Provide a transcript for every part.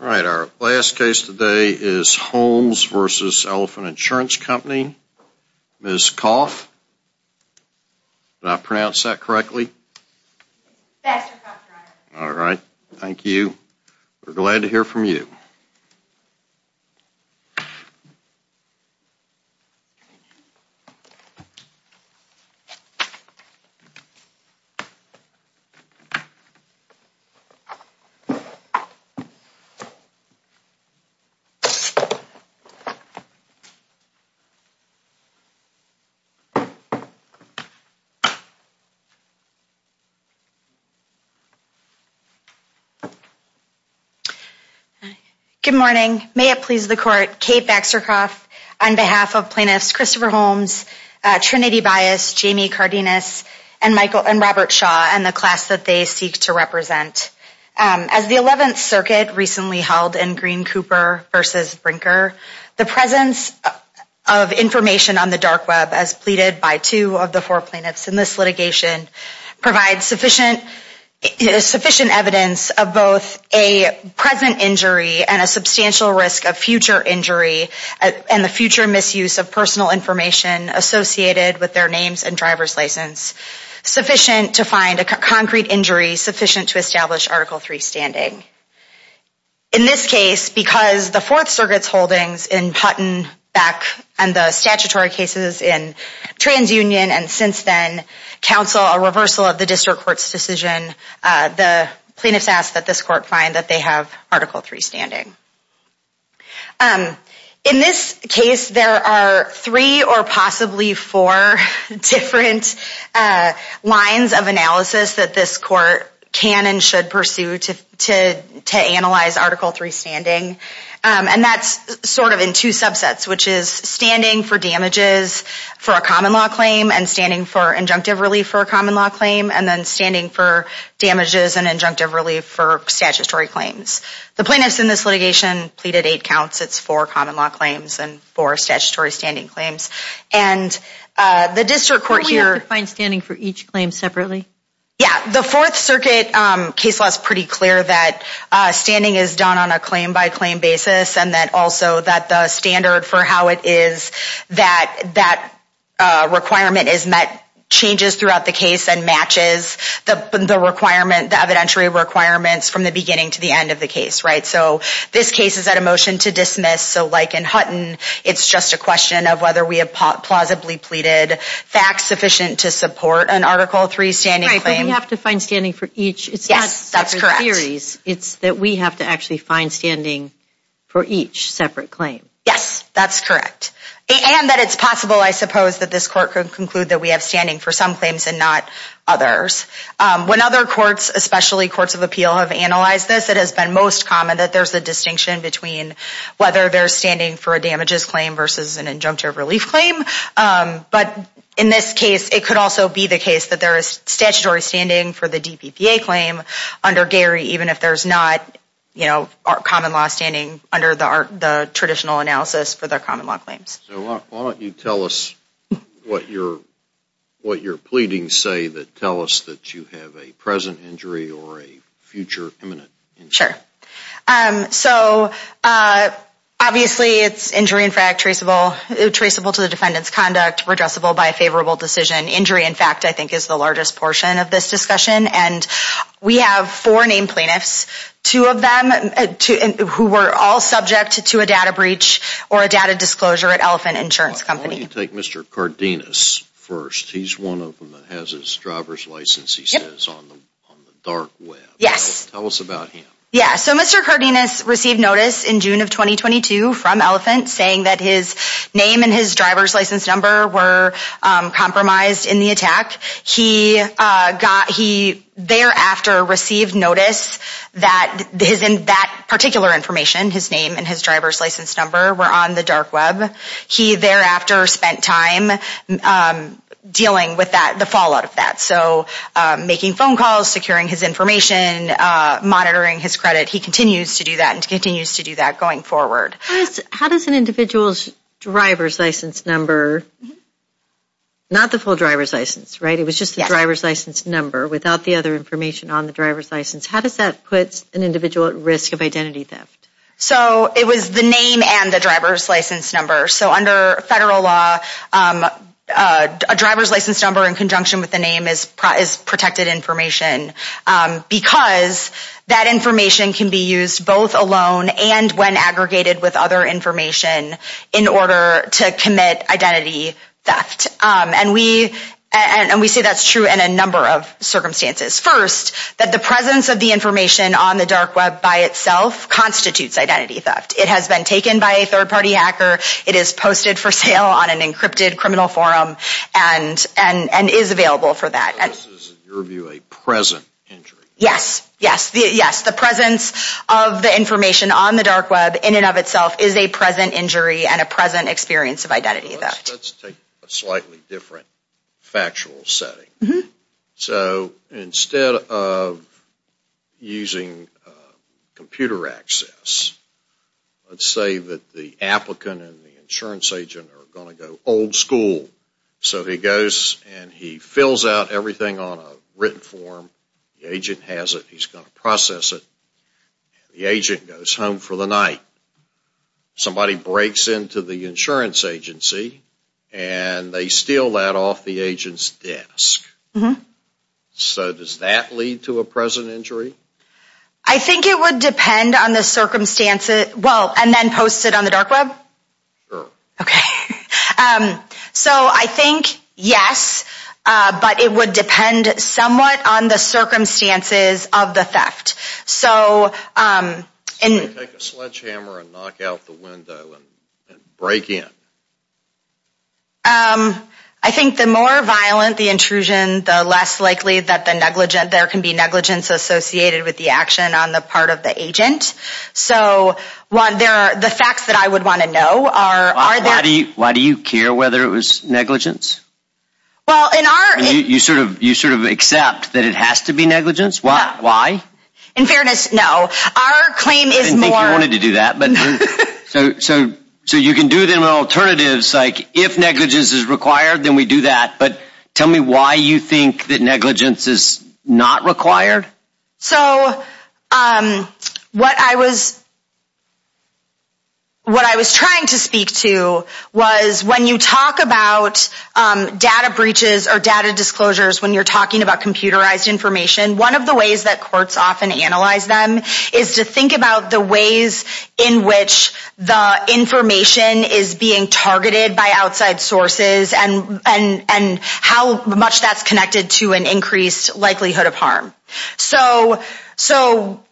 All right our last case today is Holmes versus Elephant Insurance Company. Ms. Koff, did I pronounce that correctly? All right, thank you. We're glad to hear from you. Good morning. May it please the court, Kate Baxter Koff on behalf of plaintiffs Christopher Holmes, Trinity Bias, Jamie Cardenas, and Michael and Robert Shaw and the class that they seek to represent. As the Eleventh Circuit recently held in Green Cooper versus Brinker, the presence of information on the dark web as pleaded by two of the four plaintiffs in this litigation provides sufficient evidence of both a present injury and a substantial risk of future injury and the future misuse of personal information associated with their names and driver's license sufficient to find a concrete injury sufficient to establish Article 3 standing. In this case, because the Fourth Circuit's holdings in Hutton back and the statutory cases in TransUnion and since then counsel a reversal of the district court's decision, the plaintiffs ask that this court find that they have Article 3 standing. In this case, there are three or possibly four different lines of analysis that this court can and should pursue to analyze Article 3 standing. And that's sort of in two subsets, which is standing for damages for a common law claim and standing for injunctive relief for a common law claim and then standing for damages and injunctive relief for statutory claims. The district court here... We have to find standing for each claim separately? Yeah, the Fourth Circuit case law is pretty clear that standing is done on a claim by claim basis and that also that the standard for how it is that that requirement is met changes throughout the case and matches the requirement, the evidentiary requirements from the beginning to the end of the case, right? So this case is at a motion to dismiss. So like in Hutton, it's just a question of whether we have plausibly pleaded facts sufficient to support an Article 3 standing claim. Right, but we have to find standing for each. Yes, that's correct. It's not separate theories. It's that we have to actually find standing for each separate claim. Yes, that's correct. And that it's possible, I suppose, that this court could conclude that we have standing for some claims and not others. When other courts, especially courts of appeal, have analyzed this, it has been most common that there's a distinction between whether there's standing for a damages claim versus an injunctive relief claim. But in this case, it could also be the case that there is statutory standing for the DPPA claim under Gary, even if there's not, you know, common law standing under the traditional analysis for the common law claims. So why don't you tell us what you're pleading say that tell us that you have a present injury or a future imminent injury? Sure. So, obviously, it's injury, in fact, traceable to the defendant's conduct, redressable by a favorable decision. Injury, in fact, I think is the largest portion of this discussion. And we have four named plaintiffs, two of them who were all subject to a data breach or a data disclosure at Elephant Insurance Company. Why don't you take Mr. Cardenas first? He's one of them that has his driver's license, he says, on the dark web. Yes. Tell us about him. Yeah. So Mr. Cardenas received notice in June of 2022 from Elephant saying that his name and his driver's license number were compromised in the attack. He got he thereafter received notice that is in that particular information, his name and his driver's license number were on the dark web. He thereafter spent time dealing with that, the fallout of that. So, making phone calls, securing his information, monitoring his credit. He continues to do that and continues to do that going forward. How does an individual's driver's license number, not the full driver's license, right? It was just the driver's license number without the other information on the driver's license. How does that put an individual at risk of identity theft? So, it was the name and the driver's license number. So, under federal law, a driver's license number in conjunction with the name is protected information because that information can be used both alone and when aggregated with other information in order to commit identity theft. And we say that's true in a number of circumstances. First, that the presence of the information on the dark web by itself constitutes identity theft. It has been taken by a third party hacker. It is posted for sale on an encrypted criminal forum and is available for that. So, this is, in your view, a present injury? Yes. Yes. Yes. The presence of the information on the dark web in and of itself is a present injury and a present experience of identity theft. Let's take a slightly different factual setting. So, instead of using computer access, let's say that the applicant and the insurance agent are going to go old school. So, he goes and he fills out everything on a written form. The agent has it. He's going to process it. The agent goes home for the night. Somebody breaks into the insurance agency and they steal that off the agent's desk. So, does that lead to a present injury? I think it would depend on the circumstances. Well, and then post it on the dark web? Sure. Okay. So, I think yes, but it would depend somewhat on the circumstances of the theft. So, take a sledgehammer and knock out the window and break in. I think the more violent the intrusion, the less likely that there can be negligence associated with the action on the part of the agent. So, the facts that I would want to know are... Why do you care whether it was negligence? Well, in our... You sort of accept that it has to be negligence? Why? In fairness, no. Our claim is more... I didn't think you wanted to do that. So, you can do them in alternatives, like if negligence is required, then we do that. But why do you think negligence is not required? So, what I was trying to speak to was when you talk about data breaches or data disclosures, when you're talking about computerized information, one of the ways that courts often analyze them is to think about the ways in which the information is being targeted by outside sources and how much that's connected to an increased likelihood of harm.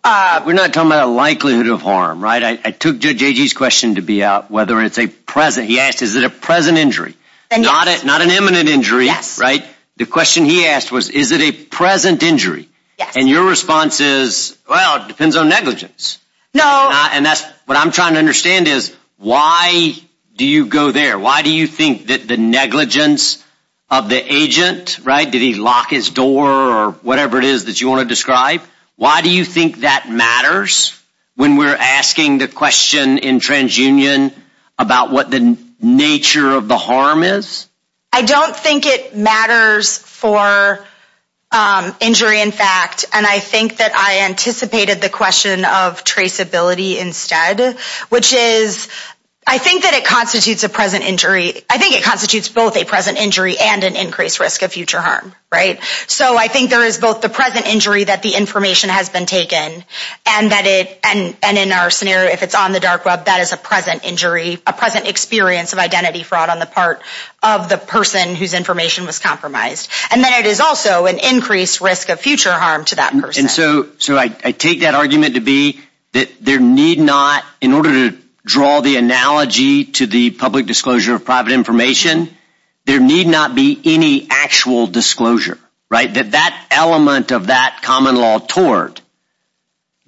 We're not talking about a likelihood of harm, right? I took JJ's question to be out whether it's a present... He asked, is it a present injury? Not an imminent injury, right? The question he asked was, is it a present injury? And your response is, well, it depends on negligence. And that's what I'm trying to understand is, why do you go there? Why do you think that the negligence of the agent, right? Did he lock his door or whatever it is that you want to describe? Why do you think that matters when we're asking the question in TransUnion about what the nature of the harm is? I don't think it matters for injury, in fact. And I think that I anticipated the question of traceability instead, which is, I think that it constitutes a present injury. I think it constitutes both a present injury and an increased risk of future harm, right? So I think there is both the present injury that the information has been taken and that it, and in our scenario, if it's on the dark web, that is a present injury, a present experience of identity fraud on the part of the person whose information was compromised. And then it is also an increased risk of future harm to that person. And so I take that argument to be that there need not, in order to draw the analogy to the public disclosure of private information, there need not be any actual disclosure, right? That that element of that common law tort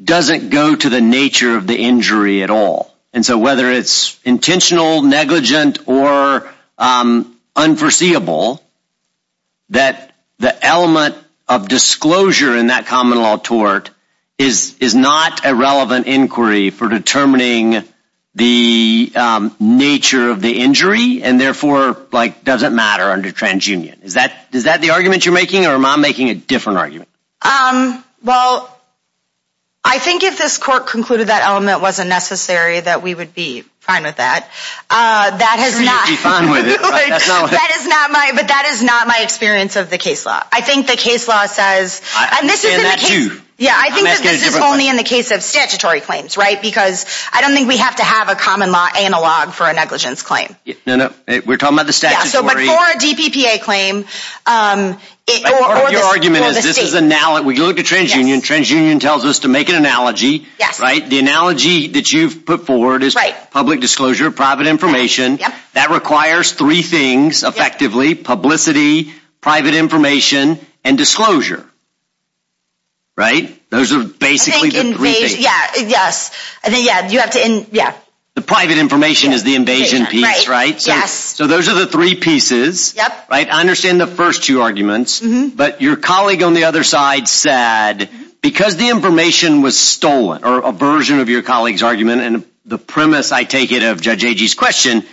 doesn't go to the nature of the injury at all. And so whether it's intentional, negligent, or unforeseeable, that the element of disclosure in that common law tort is not a relevant inquiry for determining the nature of the injury and therefore doesn't matter under transunion. Is that the argument you're making or am I making a different argument? Well, I think if this court concluded that element wasn't necessary, that we would be fine with that. That is not my, but that is not my experience of the case law. I think the case law says, yeah, I think this is only in the case of statutory claims, right? Because I don't think we have to have a common law analog for a negligence claim. No, no, we're talking about the statute. But for a DPPA claim, your argument is this is a, when you look at transunion, transunion tells us to make an analogy, right? The analogy that you've put forward is public disclosure, private information. That requires three things effectively, publicity, private information, and disclosure, right? Those are basically the three things. Yeah, yes. I think, yeah, you have to, yeah. The private information is the invasion piece, right? So those are the three pieces, right? I understand the first two arguments, but your colleague on the other side said because the information was stolen, or a version of your colleague's argument, and the premise, I take it, of Judge Agee's question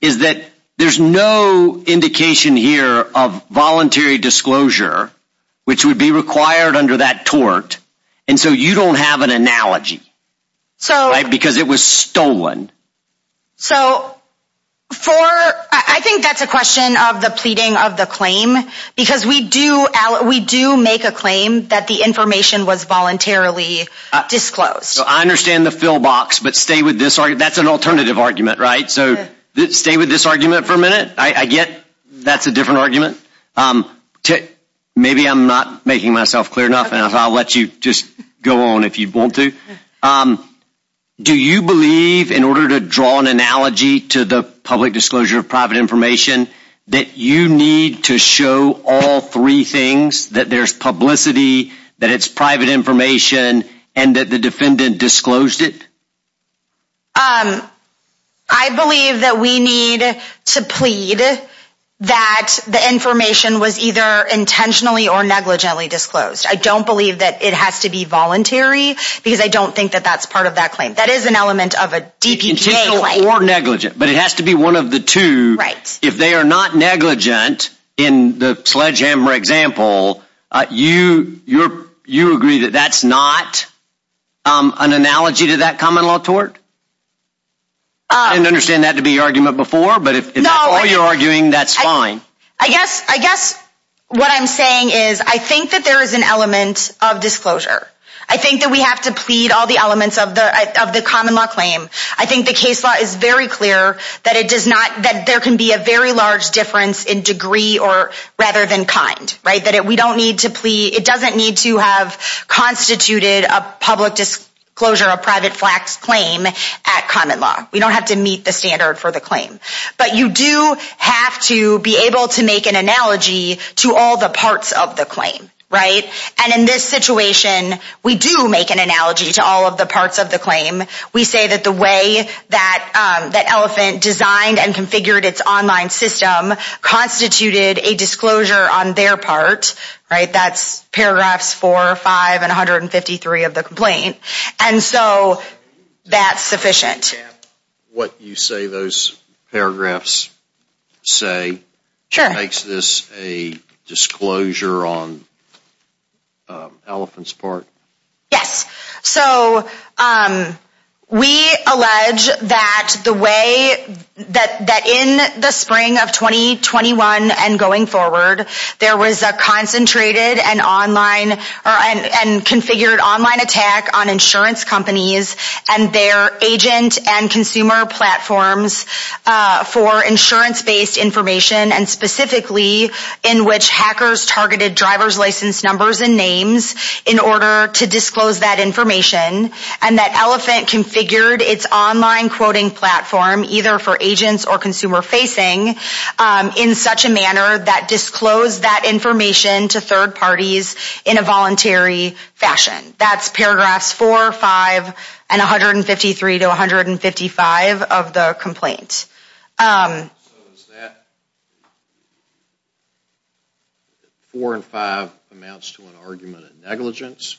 is that there's no indication here of voluntary disclosure, which would be required under that tort, and so you don't have an analogy, right? Because it was stolen. So for, I think that's a question of the pleading of the claim, because we do make a claim that the information was voluntarily disclosed. I understand the fill box, but stay with this, that's an alternative argument, right? So stay with this argument for a minute. I get that's a different argument. Maybe I'm not making myself clear enough, and I'll let you just go on if you want to. Do you believe, in order to draw an analogy to the public disclosure of private information, that you need to show all three things, that there's publicity, that it's private information, and that the defendant disclosed it? I believe that we need to plead that the information was either intentionally or negligently disclosed. I don't believe that it has to be voluntary, because I don't think that that's part of that claim. That is an element of a DPGA claim. Or negligent, but it has to be one of the two. If they are not negligent, in the sledgehammer example, you agree that that's not an analogy to that common law tort? I didn't understand that to be argument before, but if that's all you're arguing, that's fine. I guess what I'm saying is, I think that there is an element of disclosure. I think that we have to plead all elements of the common law claim. I think the case law is very clear that there can be a very large difference in degree rather than kind. It doesn't need to have constituted a public disclosure, a private flax claim at common law. We don't have to meet the standard for the claim. But you do have to be able to make an analogy to all the parts of the claim. And in this situation, we do make an analogy to all of the parts of the claim. We say that the way that Elephant designed and configured its online system constituted a disclosure on their part. That's paragraphs 4, 5, and 153 of the complaint. And so that's sufficient. What you say those paragraphs say, makes this a disclosure on Elephant's part? Yes. So we allege that in the spring of 2021 and going forward, there was a concentrated and online and configured online attack on insurance companies and their agent and consumer platforms for insurance-based information and specifically in which hackers targeted driver's license numbers and names in order to disclose that information. And that Elephant configured its online quoting platform, either for agents or consumer facing, in such a manner that disclosed that information to third parties in a voluntary fashion. That's paragraphs 4, 5, and 153 to 155 of the complaint. So is that 4 and 5 amounts to an argument of negligence?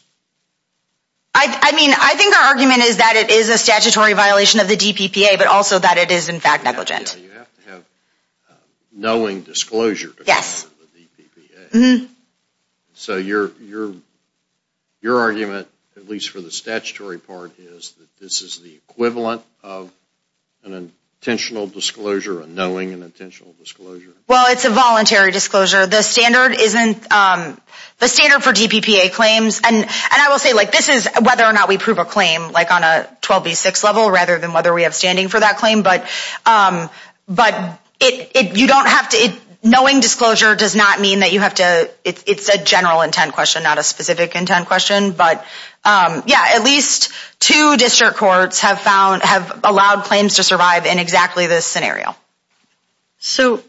I mean, I think our argument is that it is a statutory violation of the DPPA, but also that it is in fact negligent. You have to have knowing disclosure to cover the DPPA. So your argument, at least for the statutory part, is that this is the equivalent of an intentional disclosure, a knowing and intentional disclosure? Well, it's a voluntary disclosure. The standard for DPPA claims, and I will say like this is whether or not we prove a claim like on a 12B6 level rather than whether we have standing for that claim. But knowing disclosure does not mean that you have to, it's a general intent question, not a specific intent question. But yeah, at least two district courts have allowed claims to survive in exactly this scenario. So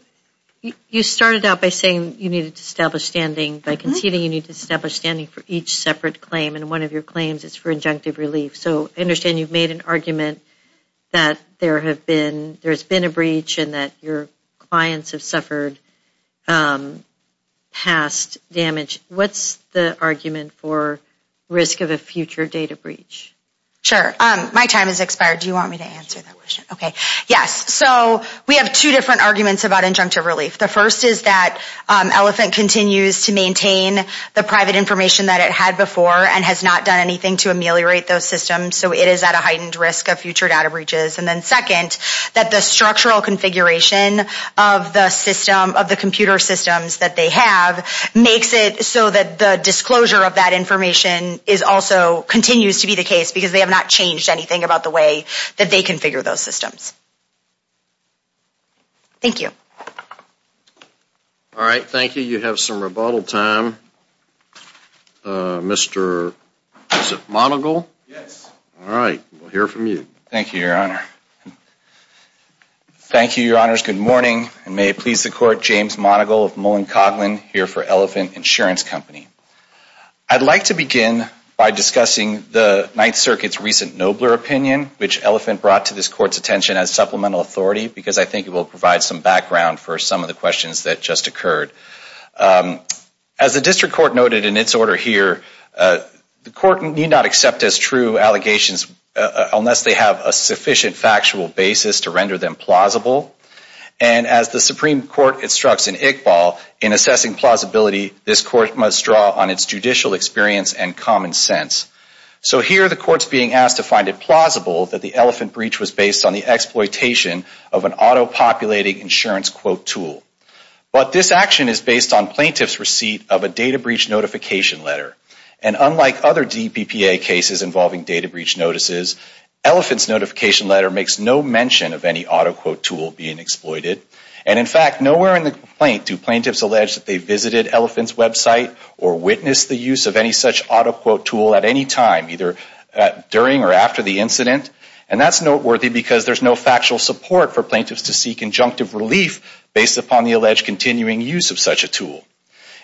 you started out by saying you needed to establish standing. By conceding, you need to establish standing for each separate claim. And one of your claims is for injunctive relief. So I understand you've made an argument that there have been, there's been a breach and that your clients have suffered past damage. What's the argument for risk of a future data breach? Sure. My time has expired. Do you want me to answer that question? Okay. Yes. So we have two different arguments about injunctive relief. The first is that Elephant continues to maintain the private information that it had before and has not done anything to ameliorate those systems. So it is at a heightened risk of future data breaches. And then second, that the structural configuration of the system, of the computer systems that they have, makes it so that the disclosure of that information is also, continues to be the case because they have not changed anything about the way that they configure those systems. Thank you. All right. Thank you. You have some rebuttal time. Mr. Monagle? Yes. All right. We'll hear from you. Thank you, Your Honor. Thank you, Your Honors. Good morning. And may it please the court, James Monagle of Mullen Coughlin here for Elephant Insurance Company. I'd like to begin by discussing the Ninth Circuit's recent nobler opinion, which Elephant brought to this court's attention as supplemental authority, because I think it will provide some background for some of the questions that just occurred. As the district court noted in its order here, the court need not accept as true allegations unless they have a sufficient factual basis to render them plausible. And as the Supreme Court instructs in Iqbal, in assessing plausibility, this court must draw on its judicial experience and common sense. So here the court's being asked to find it plausible that the Elephant breach was based on the exploitation of an auto-populating insurance quote tool. But this action is based on plaintiff's receipt of a data breach notification letter. And unlike other DPPA cases involving data breach notices, Elephant's notification letter makes no mention of any auto-quote tool being exploited. And in fact, nowhere in the complaint do plaintiffs allege that they visited Elephant's website or witnessed the use of any such auto-quote tool at any time, either during or after the incident. And that's noteworthy because there's no factual support for plaintiffs to seek injunctive relief based upon the alleged continuing use of such a tool.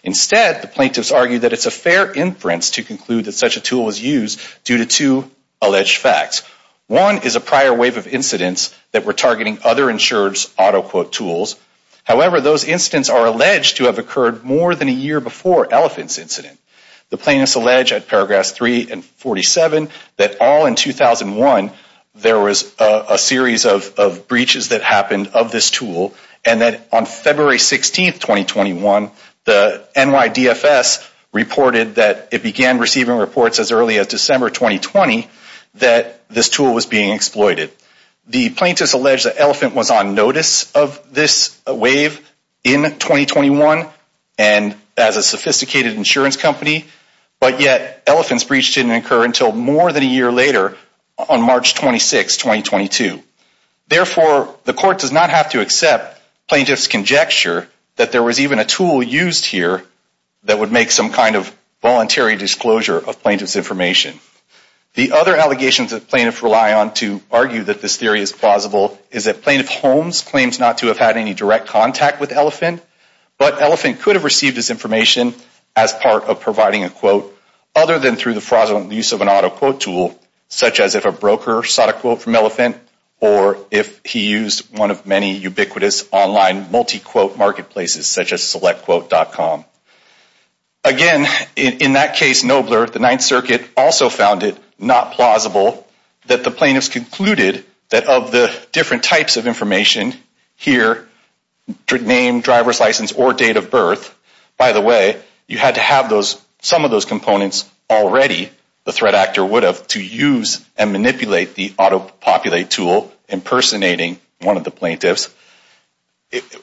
Instead, the plaintiffs argue that it's a fair inference to conclude that such a tool was used due to two alleged facts. One is a prior wave of incidents that were targeting other insurers' auto-quote tools. However, those incidents are alleged to have occurred more than a year before Elephant's incident. The plaintiffs allege at paragraphs 3 and 47 that all in 2001, there was a series of breaches that happened of this tool. And that on February 16, 2021, the NYDFS reported that it began receiving reports as early as December 2020 that this tool was being exploited. The plaintiffs allege that Elephant was on notice of this wave in 2021 and as a sophisticated insurance company, but yet Elephant's breach didn't occur until more than a year later on March 26, 2022. Therefore, the court does not have to accept plaintiffs' conjecture that there was even a tool used here that would make some kind of voluntary disclosure of plaintiffs' information. The other allegations that plaintiffs rely on to argue that this theory is plausible is that Plaintiff Holmes claims not to have had any direct contact with Elephant, but Elephant could have received this information as part of providing a quote, other than through the fraudulent use of an auto-quote tool, such as if a broker sought a quote from Elephant or if he used one of many ubiquitous online multi-quote marketplaces, such as selectquote.com. Again, in that case, Nobler, the Ninth Circuit, also found it not plausible that the plaintiffs concluded that of the different types of information here, name, driver's license, or date of birth, by the way, you had to have some of those components already, the threat actor would have, to use and manipulate the auto-populate tool impersonating one of the plaintiffs.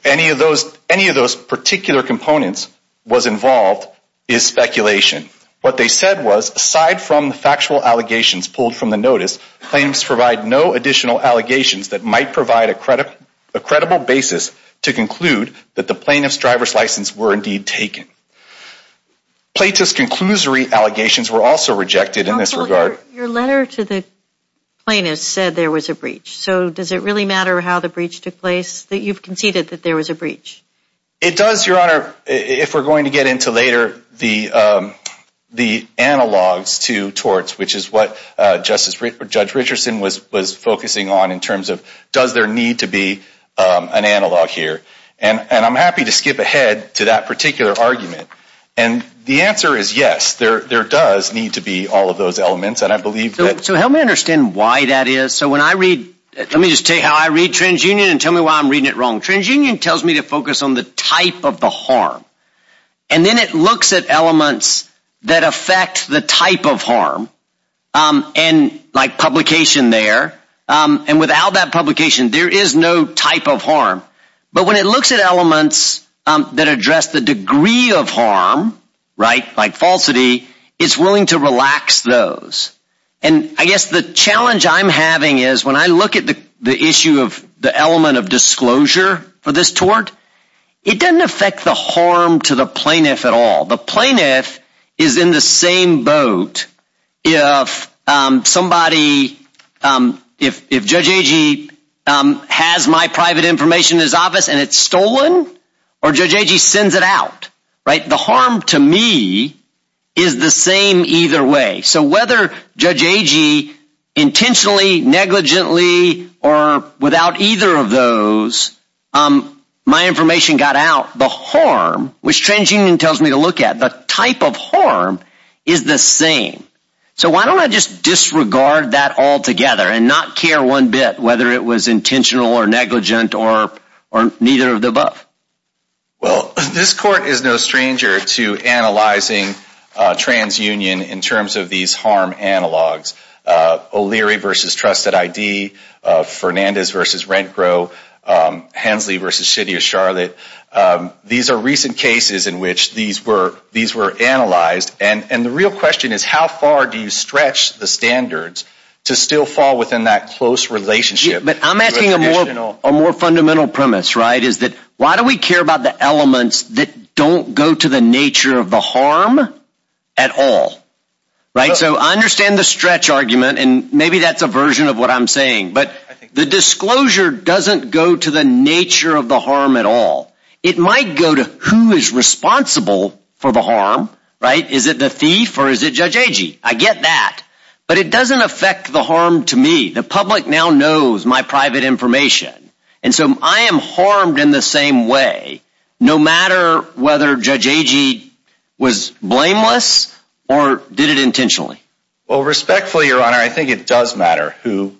Any of those particular components was involved is speculation. What they said was, aside from the factual allegations pulled from the notice, plaintiffs provide no additional allegations that might provide a credible basis to conclude that the plaintiff's driver's license were indeed taken. Plaintiff's conclusory allegations were also rejected in this regard. Your letter to the plaintiffs said there was a breach. So does it really matter how the breach took place that you've conceded that there was a breach? It does, Your Honor, if we're going to get into later the analogs to torts, which is what Judge Richardson was focusing on in terms of does there need to be an analog here. And I'm happy to skip ahead to that particular argument. And the answer is yes, there does need to be all of those elements. And I believe that... So help me understand why that is. So when I read, let me just take how I read TransUnion and tell me why I'm reading it wrong. TransUnion tells me to focus on the type of the harm. And then it looks at elements that affect the type of harm and like publication there. And without that publication, there is no type of harm. But when it looks at elements that address the degree of harm, right, like falsity, it's willing to relax those. And I guess the challenge I'm having is when I look at the issue of the element of disclosure for this tort, it doesn't affect the harm to the plaintiff at all. The plaintiff is in the same boat if somebody, if Judge Agee has my private information in his office and it's stolen or Judge Agee sends it out, right, the harm to me is the same either way. So whether Judge Agee intentionally, negligently, or without either of those, my information got out, the harm, which TransUnion tells me to look at, the type of harm is the same. So why don't I just disregard that altogether and not care one bit whether it was intentional or negligent or neither of the above? Well, this Court is no stranger to analyzing TransUnion in terms of these harm analogs. O'Leary v. Trusted ID, Fernandez v. RentGrow, Hensley v. City of Charlotte. These are recent cases in which these were analyzed. And the real question is how far do you stretch the standards to still fall within that close relationship? But I'm asking a more fundamental premise, right, is that why do we care about the elements that don't go to the nature of the harm at all, right? So I understand the stretch argument, and maybe that's a version of what I'm saying, but the disclosure doesn't go to the nature of the harm at all. It might go to who is responsible for the harm, right? Is it the thief or is it Judge Agee? I get that. But it doesn't affect the harm to me. The public now knows my private information. And so I am harmed in the same way no matter whether Judge Agee was blameless or did it intentionally. Well, respectfully, Your Honor, I think it does matter who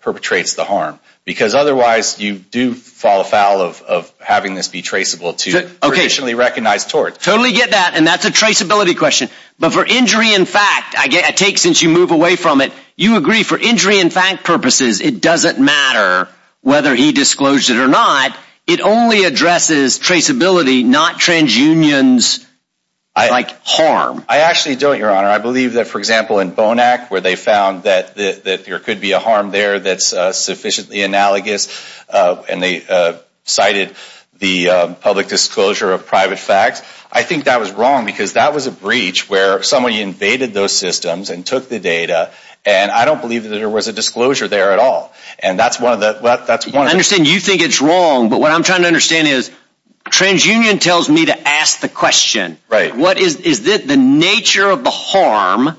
perpetrates the harm because otherwise you do fall afoul of having this be traceable to traditionally recognized torts. Totally get that, and that's a traceability question. But for injury in fact, I take since you move away from it, you agree for injury in fact purposes, it doesn't matter whether he disclosed it or not. It only addresses traceability, not transunions like harm. I actually don't, Your Honor. I believe that, for example, in Bonac where they found that there could be a harm there that's sufficiently analogous, and they cited the public disclosure of private facts. I think that was because that was a breach where somebody invaded those systems and took the data, and I don't believe that there was a disclosure there at all. And that's one of the... I understand you think it's wrong, but what I'm trying to understand is transunion tells me to ask the question, what is the nature of the harm?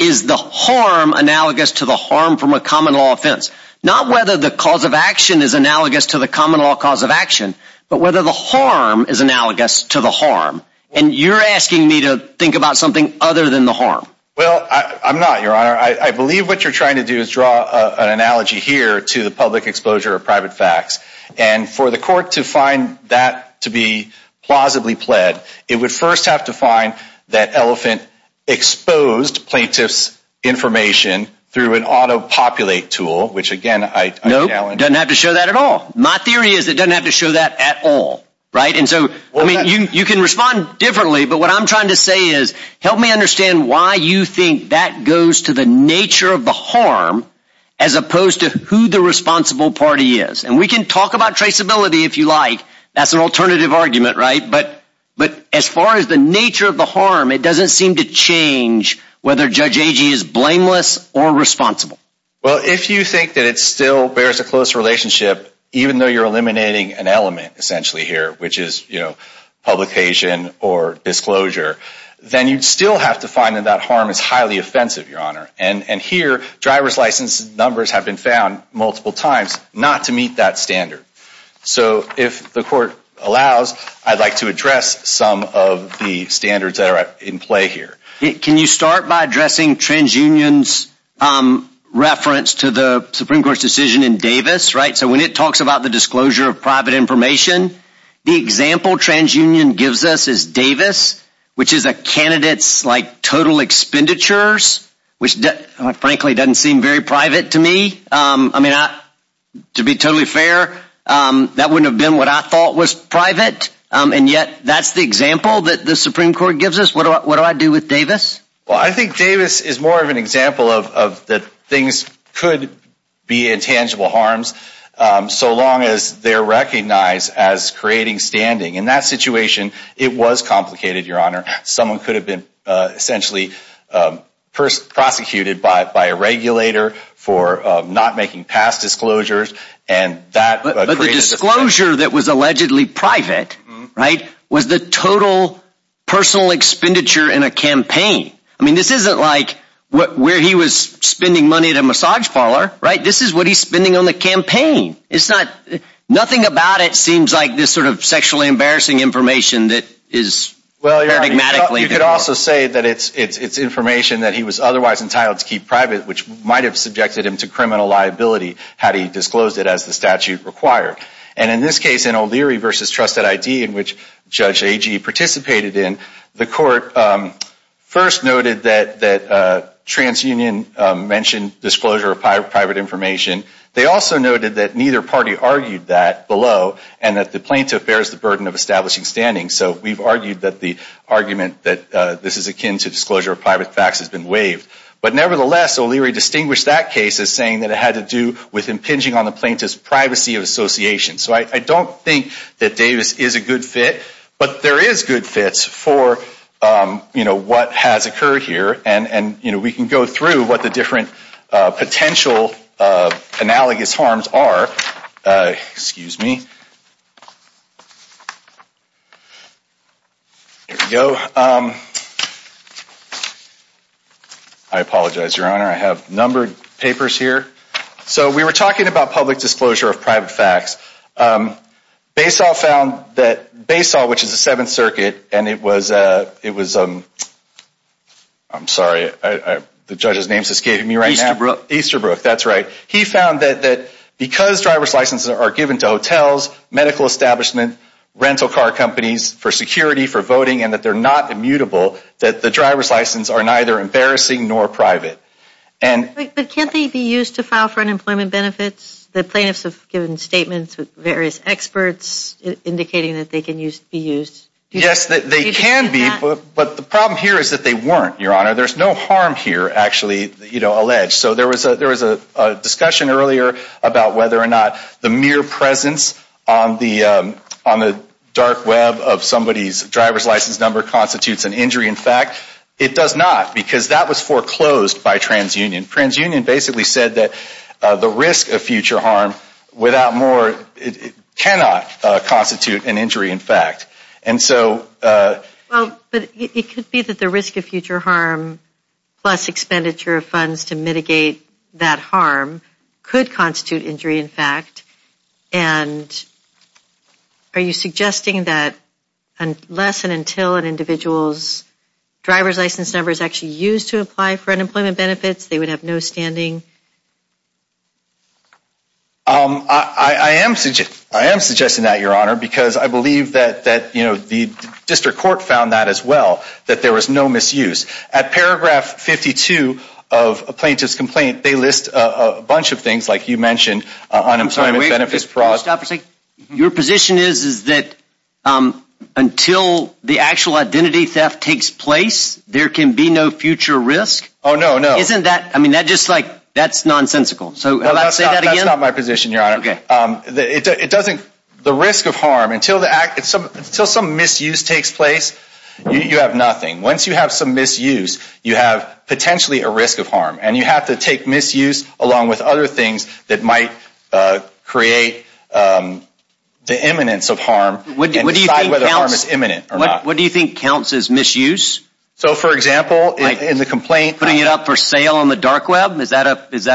Is the harm analogous to the harm from a common law offense? Not whether the cause of action is analogous to the common law cause of action, but whether the harm is analogous to the harm. And you're asking me to think about something other than the harm. Well, I'm not, Your Honor. I believe what you're trying to do is draw an analogy here to the public exposure of private facts. And for the court to find that to be plausibly pled, it would first have to find that elephant exposed plaintiff's information through an auto-populate tool, which again, I challenge... Nope, doesn't have to show that at all. My theory is it doesn't have to show that at all, right? And so, I mean, you can respond differently, but what I'm trying to say is, help me understand why you think that goes to the nature of the harm as opposed to who the responsible party is. And we can talk about traceability if you like, that's an alternative argument, right? But as far as the nature of the harm, it doesn't seem to change whether Judge Agee is blameless or responsible. Well, if you think that it still bears a close relationship, even though you're eliminating an element essentially here, which is publication or disclosure, then you'd still have to find that that harm is highly offensive, Your Honor. And here, driver's license numbers have been found multiple times not to meet that standard. So if the court allows, I'd like to address some of the standards that are in play here. Can you start by addressing TransUnion's reference to the Supreme Court's decision in Davis, right? So when it talks about the disclosure of private information, the example TransUnion gives us is Davis, which is a candidate's total expenditures, which frankly doesn't seem very private to me. I mean, to be totally fair, that wouldn't have been what I thought was private. And yet that's the example that the Supreme Court gives us. What do I do with Davis? Well, I think Davis is more of an example of that things could be intangible harms so long as they're recognized as creating standing. In that situation, it was complicated, Your Honor. Someone could have been essentially first prosecuted by a regulator for not making past disclosures. But the disclosure that was allegedly private, right, was the total personal expenditure in a campaign. I mean, this isn't like where he was spending money at a massage parlor, right? This is what he's spending on the campaign. Nothing about it seems like this sort of sexually information that he was otherwise entitled to keep private, which might have subjected him to criminal liability had he disclosed it as the statute required. And in this case, in O'Leary v. Trusted ID, in which Judge Agee participated in, the court first noted that TransUnion mentioned disclosure of private information. They also noted that neither party argued that below and that the plaintiff bears the burden of establishing standing. So we've argued that the argument that this is akin to disclosure of private facts has been waived. But nevertheless, O'Leary distinguished that case as saying that it had to do with impinging on the plaintiff's privacy of association. So I don't think that Davis is a good fit, but there is good fits for, you know, what has occurred here. And, you know, we can go through what the different potential analogous harms are. Excuse me. There we go. I apologize, Your Honor. I have numbered papers here. So we were talking about public disclosure of private facts. Basel found that Basel, which is the Seventh Circuit, and it was, it was, I'm sorry, the judge's name is escaping me right now. Easterbrook. That's right. He found that because driver's licenses are given to hotels, medical establishment, rental car companies for security, for voting, and that they're not immutable, that the driver's license are neither embarrassing nor private. But can't they be used to file for unemployment benefits? The plaintiffs have given statements with various experts indicating that they can be used. Yes, they can be, but the problem here is that they weren't, Your Honor. There's no harm here, actually, you know, alleged. So there was a discussion earlier about whether or not the mere presence on the dark web of somebody's driver's license number constitutes an injury in fact. It does not, because that was foreclosed by TransUnion. TransUnion basically said that the risk of future harm without more, it cannot constitute an injury in fact. And so... Well, but it could be that the risk of future harm plus expenditure of funds to mitigate that harm could constitute injury in fact, and are you suggesting that unless and until an individual's driver's license number is actually used to apply for unemployment benefits, they would have no standing? I am suggesting that, Your Honor, because I believe that, you know, the district court found that as well, that there was no misuse. At paragraph 52 of a plaintiff's complaint, they list a bunch of things, like you mentioned, unemployment benefits fraud. Your position is that until the actual identity theft takes place, there can be no future risk? Oh, no, no. Isn't that, I mean, that just like, that's nonsensical. So let's say that again. That's not my position, Your Honor. Okay. It doesn't, the risk of harm, until some misuse takes place, you have nothing. Once you have some misuse, you have potentially a risk of harm. And you have to take misuse along with other things that might create the imminence of harm and decide whether harm is imminent or not. What do you think counts as misuse? So, for example, in the complaint... Putting it up for sale on the dark web, is that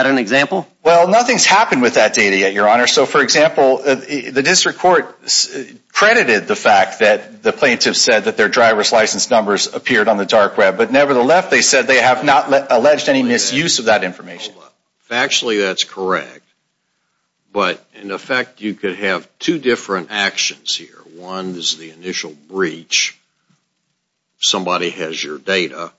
an example? Well, nothing's happened with that data yet, Your Honor. So, for example, the district court credited the fact that the plaintiff said that their driver's license numbers appeared on the dark web. But nevertheless, they said they have not alleged any misuse of that information. Factually, that's correct. But in effect, you could have two different actions here. One is the initial breach, somebody has your data,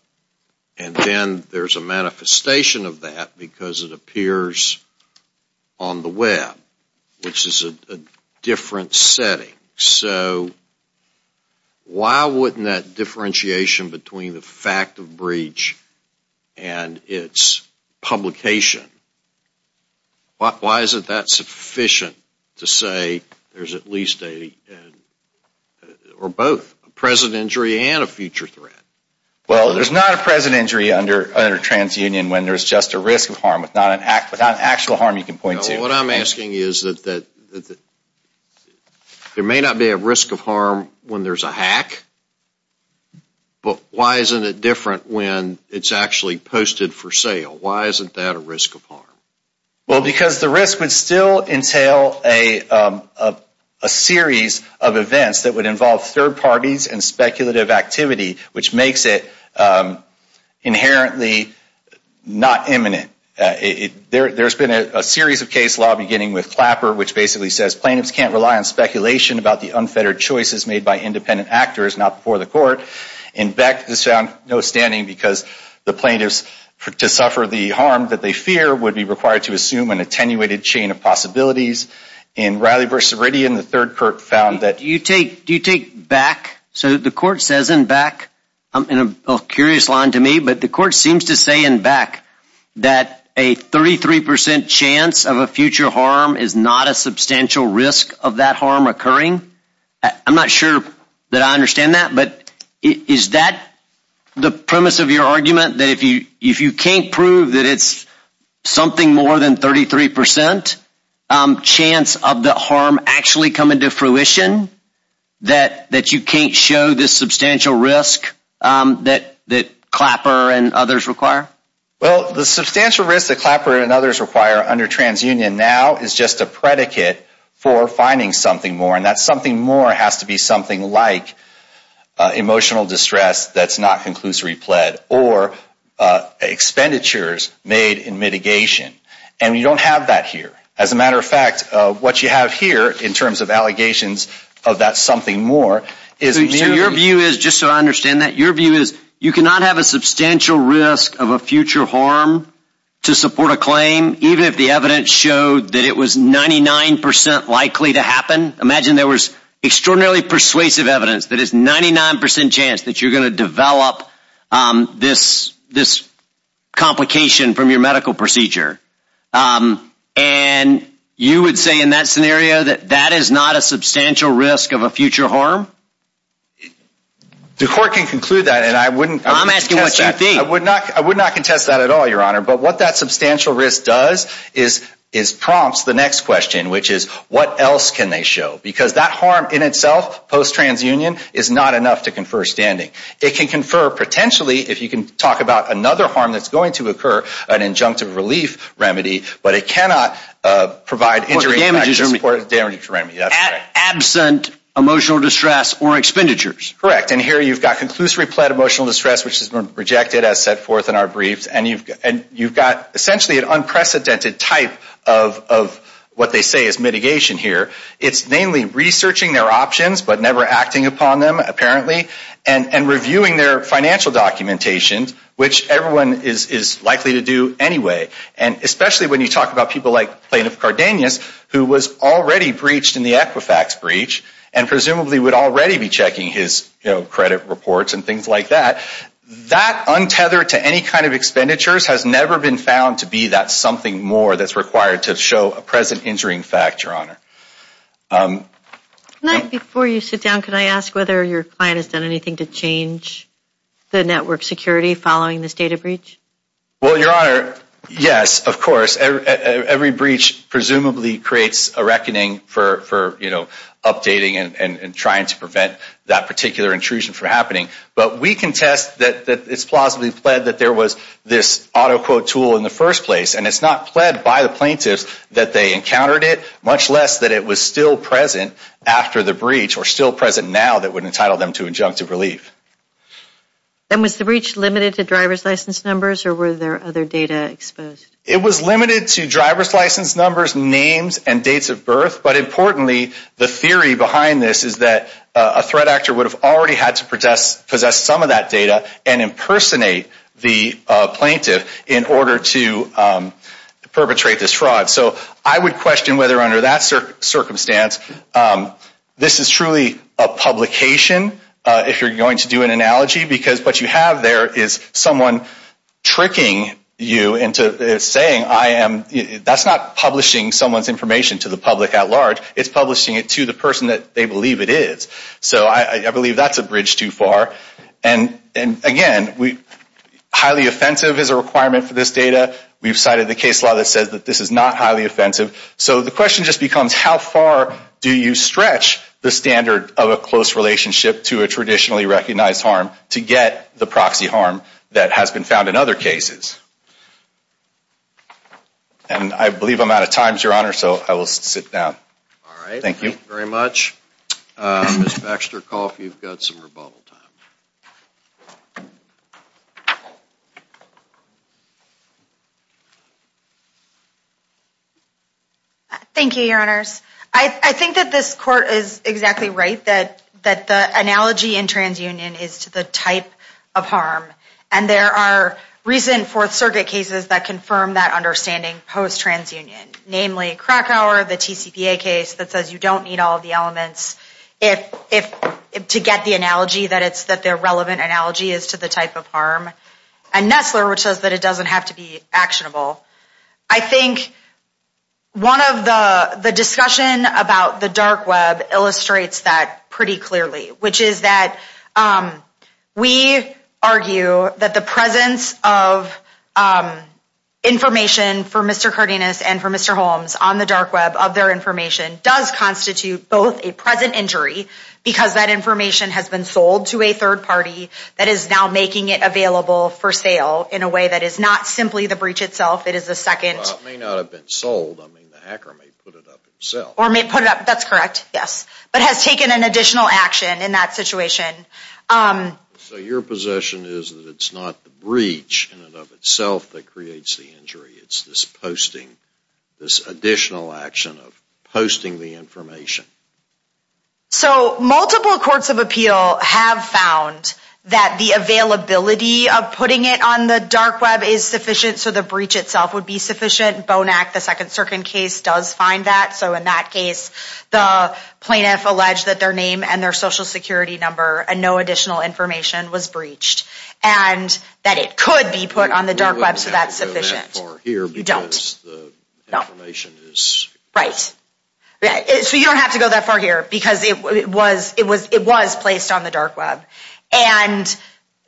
and then there's a manifestation of that because it appears on the web, which is a different setting. So why wouldn't that differentiation between the fact of breach and its publication, why isn't that sufficient to say there's at least a, or both, a present injury and a future threat? Well, there's not a present injury under TransUnion when there's just a risk of harm, without actual harm you can point to. No, what I'm asking is that there may not be a risk of harm when there's a hack, but why isn't it different when it's actually posted for sale? Why isn't that a risk of harm? Well, because the risk would still entail a series of events that would involve third parties and speculative activity, which makes it inherently not imminent. There's been a series of case law beginning with Clapper, which basically says plaintiffs can't rely on speculation about the unfettered choices made by independent actors, not before the court. In Beck, this found no standing because the plaintiffs, to suffer the harm that they fear, would be required to assume an attenuated chain of possibilities. In Riley v. Ridian, the third court found that... Do you take back, so the court says in Beck, I'm in a curious line to me, but the court seems to say in Beck that a 33% chance of a future harm is not a substantial risk of that harm occurring? I'm not sure that I understand that, but is that the premise of your argument, that if you can't prove that it's something more than 33% chance of the harm actually coming to fruition, that you can't show this substantial risk that Clapper and others require? Well, the substantial risk that Clapper and others require under TransUnion now is just a predicate for finding something more, and that something more has to be something like emotional distress that's not conclusory pled or expenditures made in mitigation. And we don't have that here. As a matter of fact, what you have here in terms of allegations of that something more is... So your view is, just so I understand that, your view is you cannot have a substantial risk of a future harm to support a claim even if the evidence showed that it was 99% likely to happen. Imagine there was extraordinarily persuasive evidence that is 99% chance that you're going to develop this complication from your medical procedure. And you would say in that scenario that that is not a substantial risk of a future harm? The court can conclude that, and I wouldn't... I'm asking what you think. I would not contest that at all, Your Honor. But what that substantial risk does is prompts the next question, which is what else can they show? Because that harm in itself, post-TransUnion, is not enough to confer standing. It can confer, potentially, if you can talk about another harm that's going to occur, an injunctive relief remedy, but it cannot provide injury... Damages... Damages remedy, that's right. Absent emotional distress or expenditures. Correct. And here you've got conclusively pled emotional distress, which has been rejected as set forth in our briefs, and you've got essentially an unprecedented type of what they say is mitigation here. It's mainly researching their options, but never acting upon them, apparently, and reviewing their financial documentation, which everyone is likely to do anyway. And especially when you talk about people like Plaintiff Cardenas, who was already breached in the Equifax breach, and presumably would already be checking his, you know, credit reports and things like that. That, untethered to any kind of expenditures, has never been found to be that something more that's required to show a present injuring fact, Your Honor. Before you sit down, could I ask whether your client has done anything to change the network security following this data breach? Well, Your Honor, yes, of course. Every breach presumably creates a reckoning for, you know, updating and trying to prevent that particular intrusion from happening. But we contest that it's plausibly pled that there was this auto quote tool in the first place, and it's not pled by the plaintiffs that they encountered it, much less that it was still present after the breach, or still present now, that would entitle them to injunctive relief. Then was the breach limited to driver's license numbers, or were there other data exposed? It was limited to driver's license numbers, names, and dates of birth. But importantly, the theory behind this is that a threat actor would have already had to possess some of that data and impersonate the plaintiff in order to perpetrate this fraud. So I would under that circumstance, this is truly a publication, if you're going to do an analogy, because what you have there is someone tricking you into saying, that's not publishing someone's information to the public at large, it's publishing it to the person that they believe it is. So I believe that's a bridge too far. And again, highly offensive is a requirement for this data. We've cited the case law that says that this is not highly offensive. So the question just becomes, how far do you stretch the standard of a close relationship to a traditionally recognized harm to get the proxy harm that has been found in other cases? And I believe I'm out of time, so I'm going to turn it over to Ms. Nessler. Thank you, Your Honors. I think that this court is exactly right, that the analogy in transunion is to the type of harm. And there are recent Fourth Circuit cases that confirm that understanding post-transunion, namely Krakauer, the TCPA case that says you don't need all of the elements to get the analogy that their relevant analogy is to the type of harm. And Nessler, which says that it doesn't have to be actionable. I think one of the discussion about the dark web illustrates that pretty clearly, which is that we argue that the presence of information for Mr. Cardenas and for Mr. Holmes on the dark web of their information does constitute both a present injury, because that information has been sold to a third party that is now making it available for sale in a way that is not simply the breach itself, it is a second... Well, it may not have been sold, I mean the hacker may put it up himself. Or may put it up, that's correct, yes. But has taken an additional action in that situation. So your possession is that it's not the breach in and of itself that creates the injury, it's this posting, this additional action of posting the information. So multiple courts of appeal have found that the availability of putting it on the dark web is sufficient, so the breach itself would be sufficient. Bonac, the second circuit case, does find that. So in that case, the plaintiff alleged that their name and their social security number and no additional information was breached. And that it could be put on the dark web, so that's sufficient. You don't have to go that far here, because it was placed on the dark web. And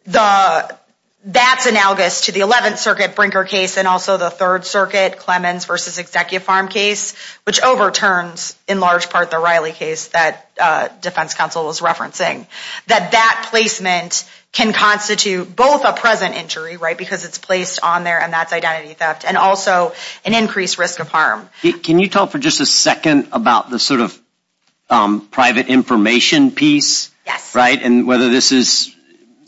that's analogous to the 11th circuit Brinker case and also the third circuit Clemens v. Executive Farm case, which overturns in large part the Riley case that defense counsel was referencing. That that placement can constitute both a present injury, right, because it's placed on there and that's identity theft, and also an increased risk of harm. Can you talk for just a second about the sort of private information piece? Yes. Right, and whether this is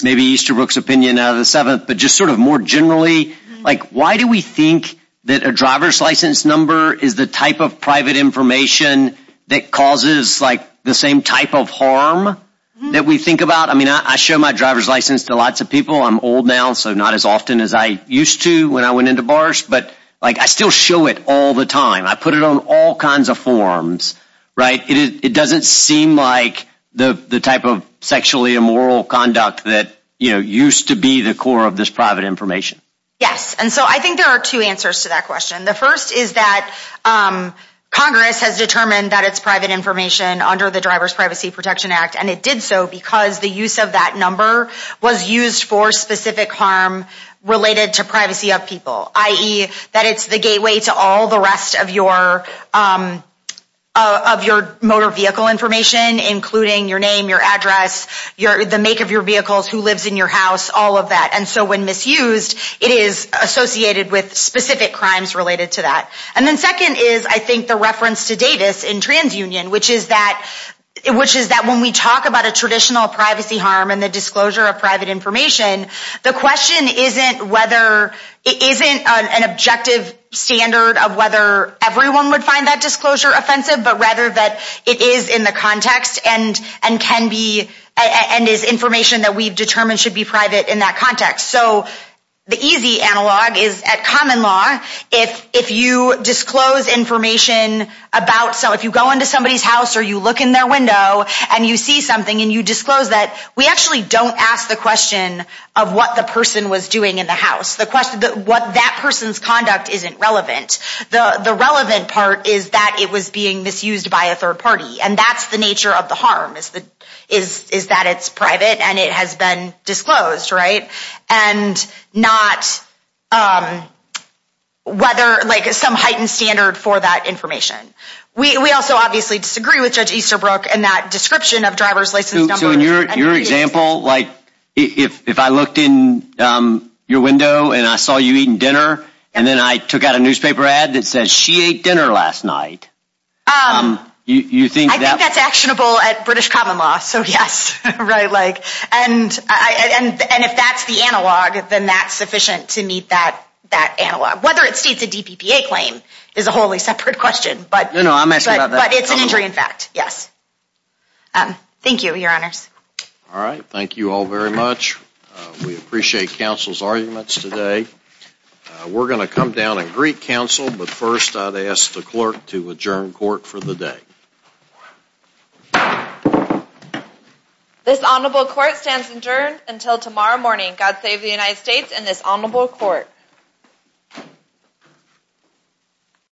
maybe Easterbrook's opinion of the 7th, but just sort of more generally, like why do we think that a driver's license number is the type of private information that causes like the same type of harm that we think about? I mean, I show my driver's license to lots of people. I'm old now, so not as often as I used to when I went into bars, but like I still show it all the time. I put it on all kinds of forms, right? It doesn't seem like the type of sexually immoral conduct that, you know, used to be the core of this private information. Yes, and so I think there are two answers to that question. The first is that Congress has determined that it's private information under the Driver's Privacy Protection Act, and it did so because the use of that number was used for specific harm related to privacy of people, i.e. that it's the gateway to all the rest of your motor vehicle information, including your name, your address, the make of your vehicles, who lives in your house, all of that. And so when it's used, it is associated with specific crimes related to that. And then second is, I think, the reference to Davis in TransUnion, which is that when we talk about a traditional privacy harm and the disclosure of private information, the question isn't whether it isn't an objective standard of whether everyone would find that disclosure offensive, but rather that it is in the context and is information that we've determined should be private in that context. So the easy analog is at common law, if you disclose information about, so if you go into somebody's house or you look in their window and you see something and you disclose that, we actually don't ask the question of what the person was doing in the house. The question, what that person's conduct isn't relevant. The relevant part is that it was being misused by a third party, and that's the nature of the harm, is that it's private and it has been disclosed, right? And not whether some heightened standard for that information. We also obviously disagree with Judge Easterbrook in that description of driver's license numbers. So in your example, like if I looked in your window and I saw you eating dinner and then I took out a newspaper ad that says she ate dinner last night, you think that... I think that's actionable at British and if that's the analog, then that's sufficient to meet that analog. Whether it states a DPPA claim is a wholly separate question, but it's an injury in fact, yes. Thank you, your honors. All right, thank you all very much. We appreciate counsel's arguments today. We're going to come down and greet counsel, but first I'd ask the clerk to adjourn court for the day. This honorable court stands adjourned until tomorrow morning. God save the United States and this honorable court.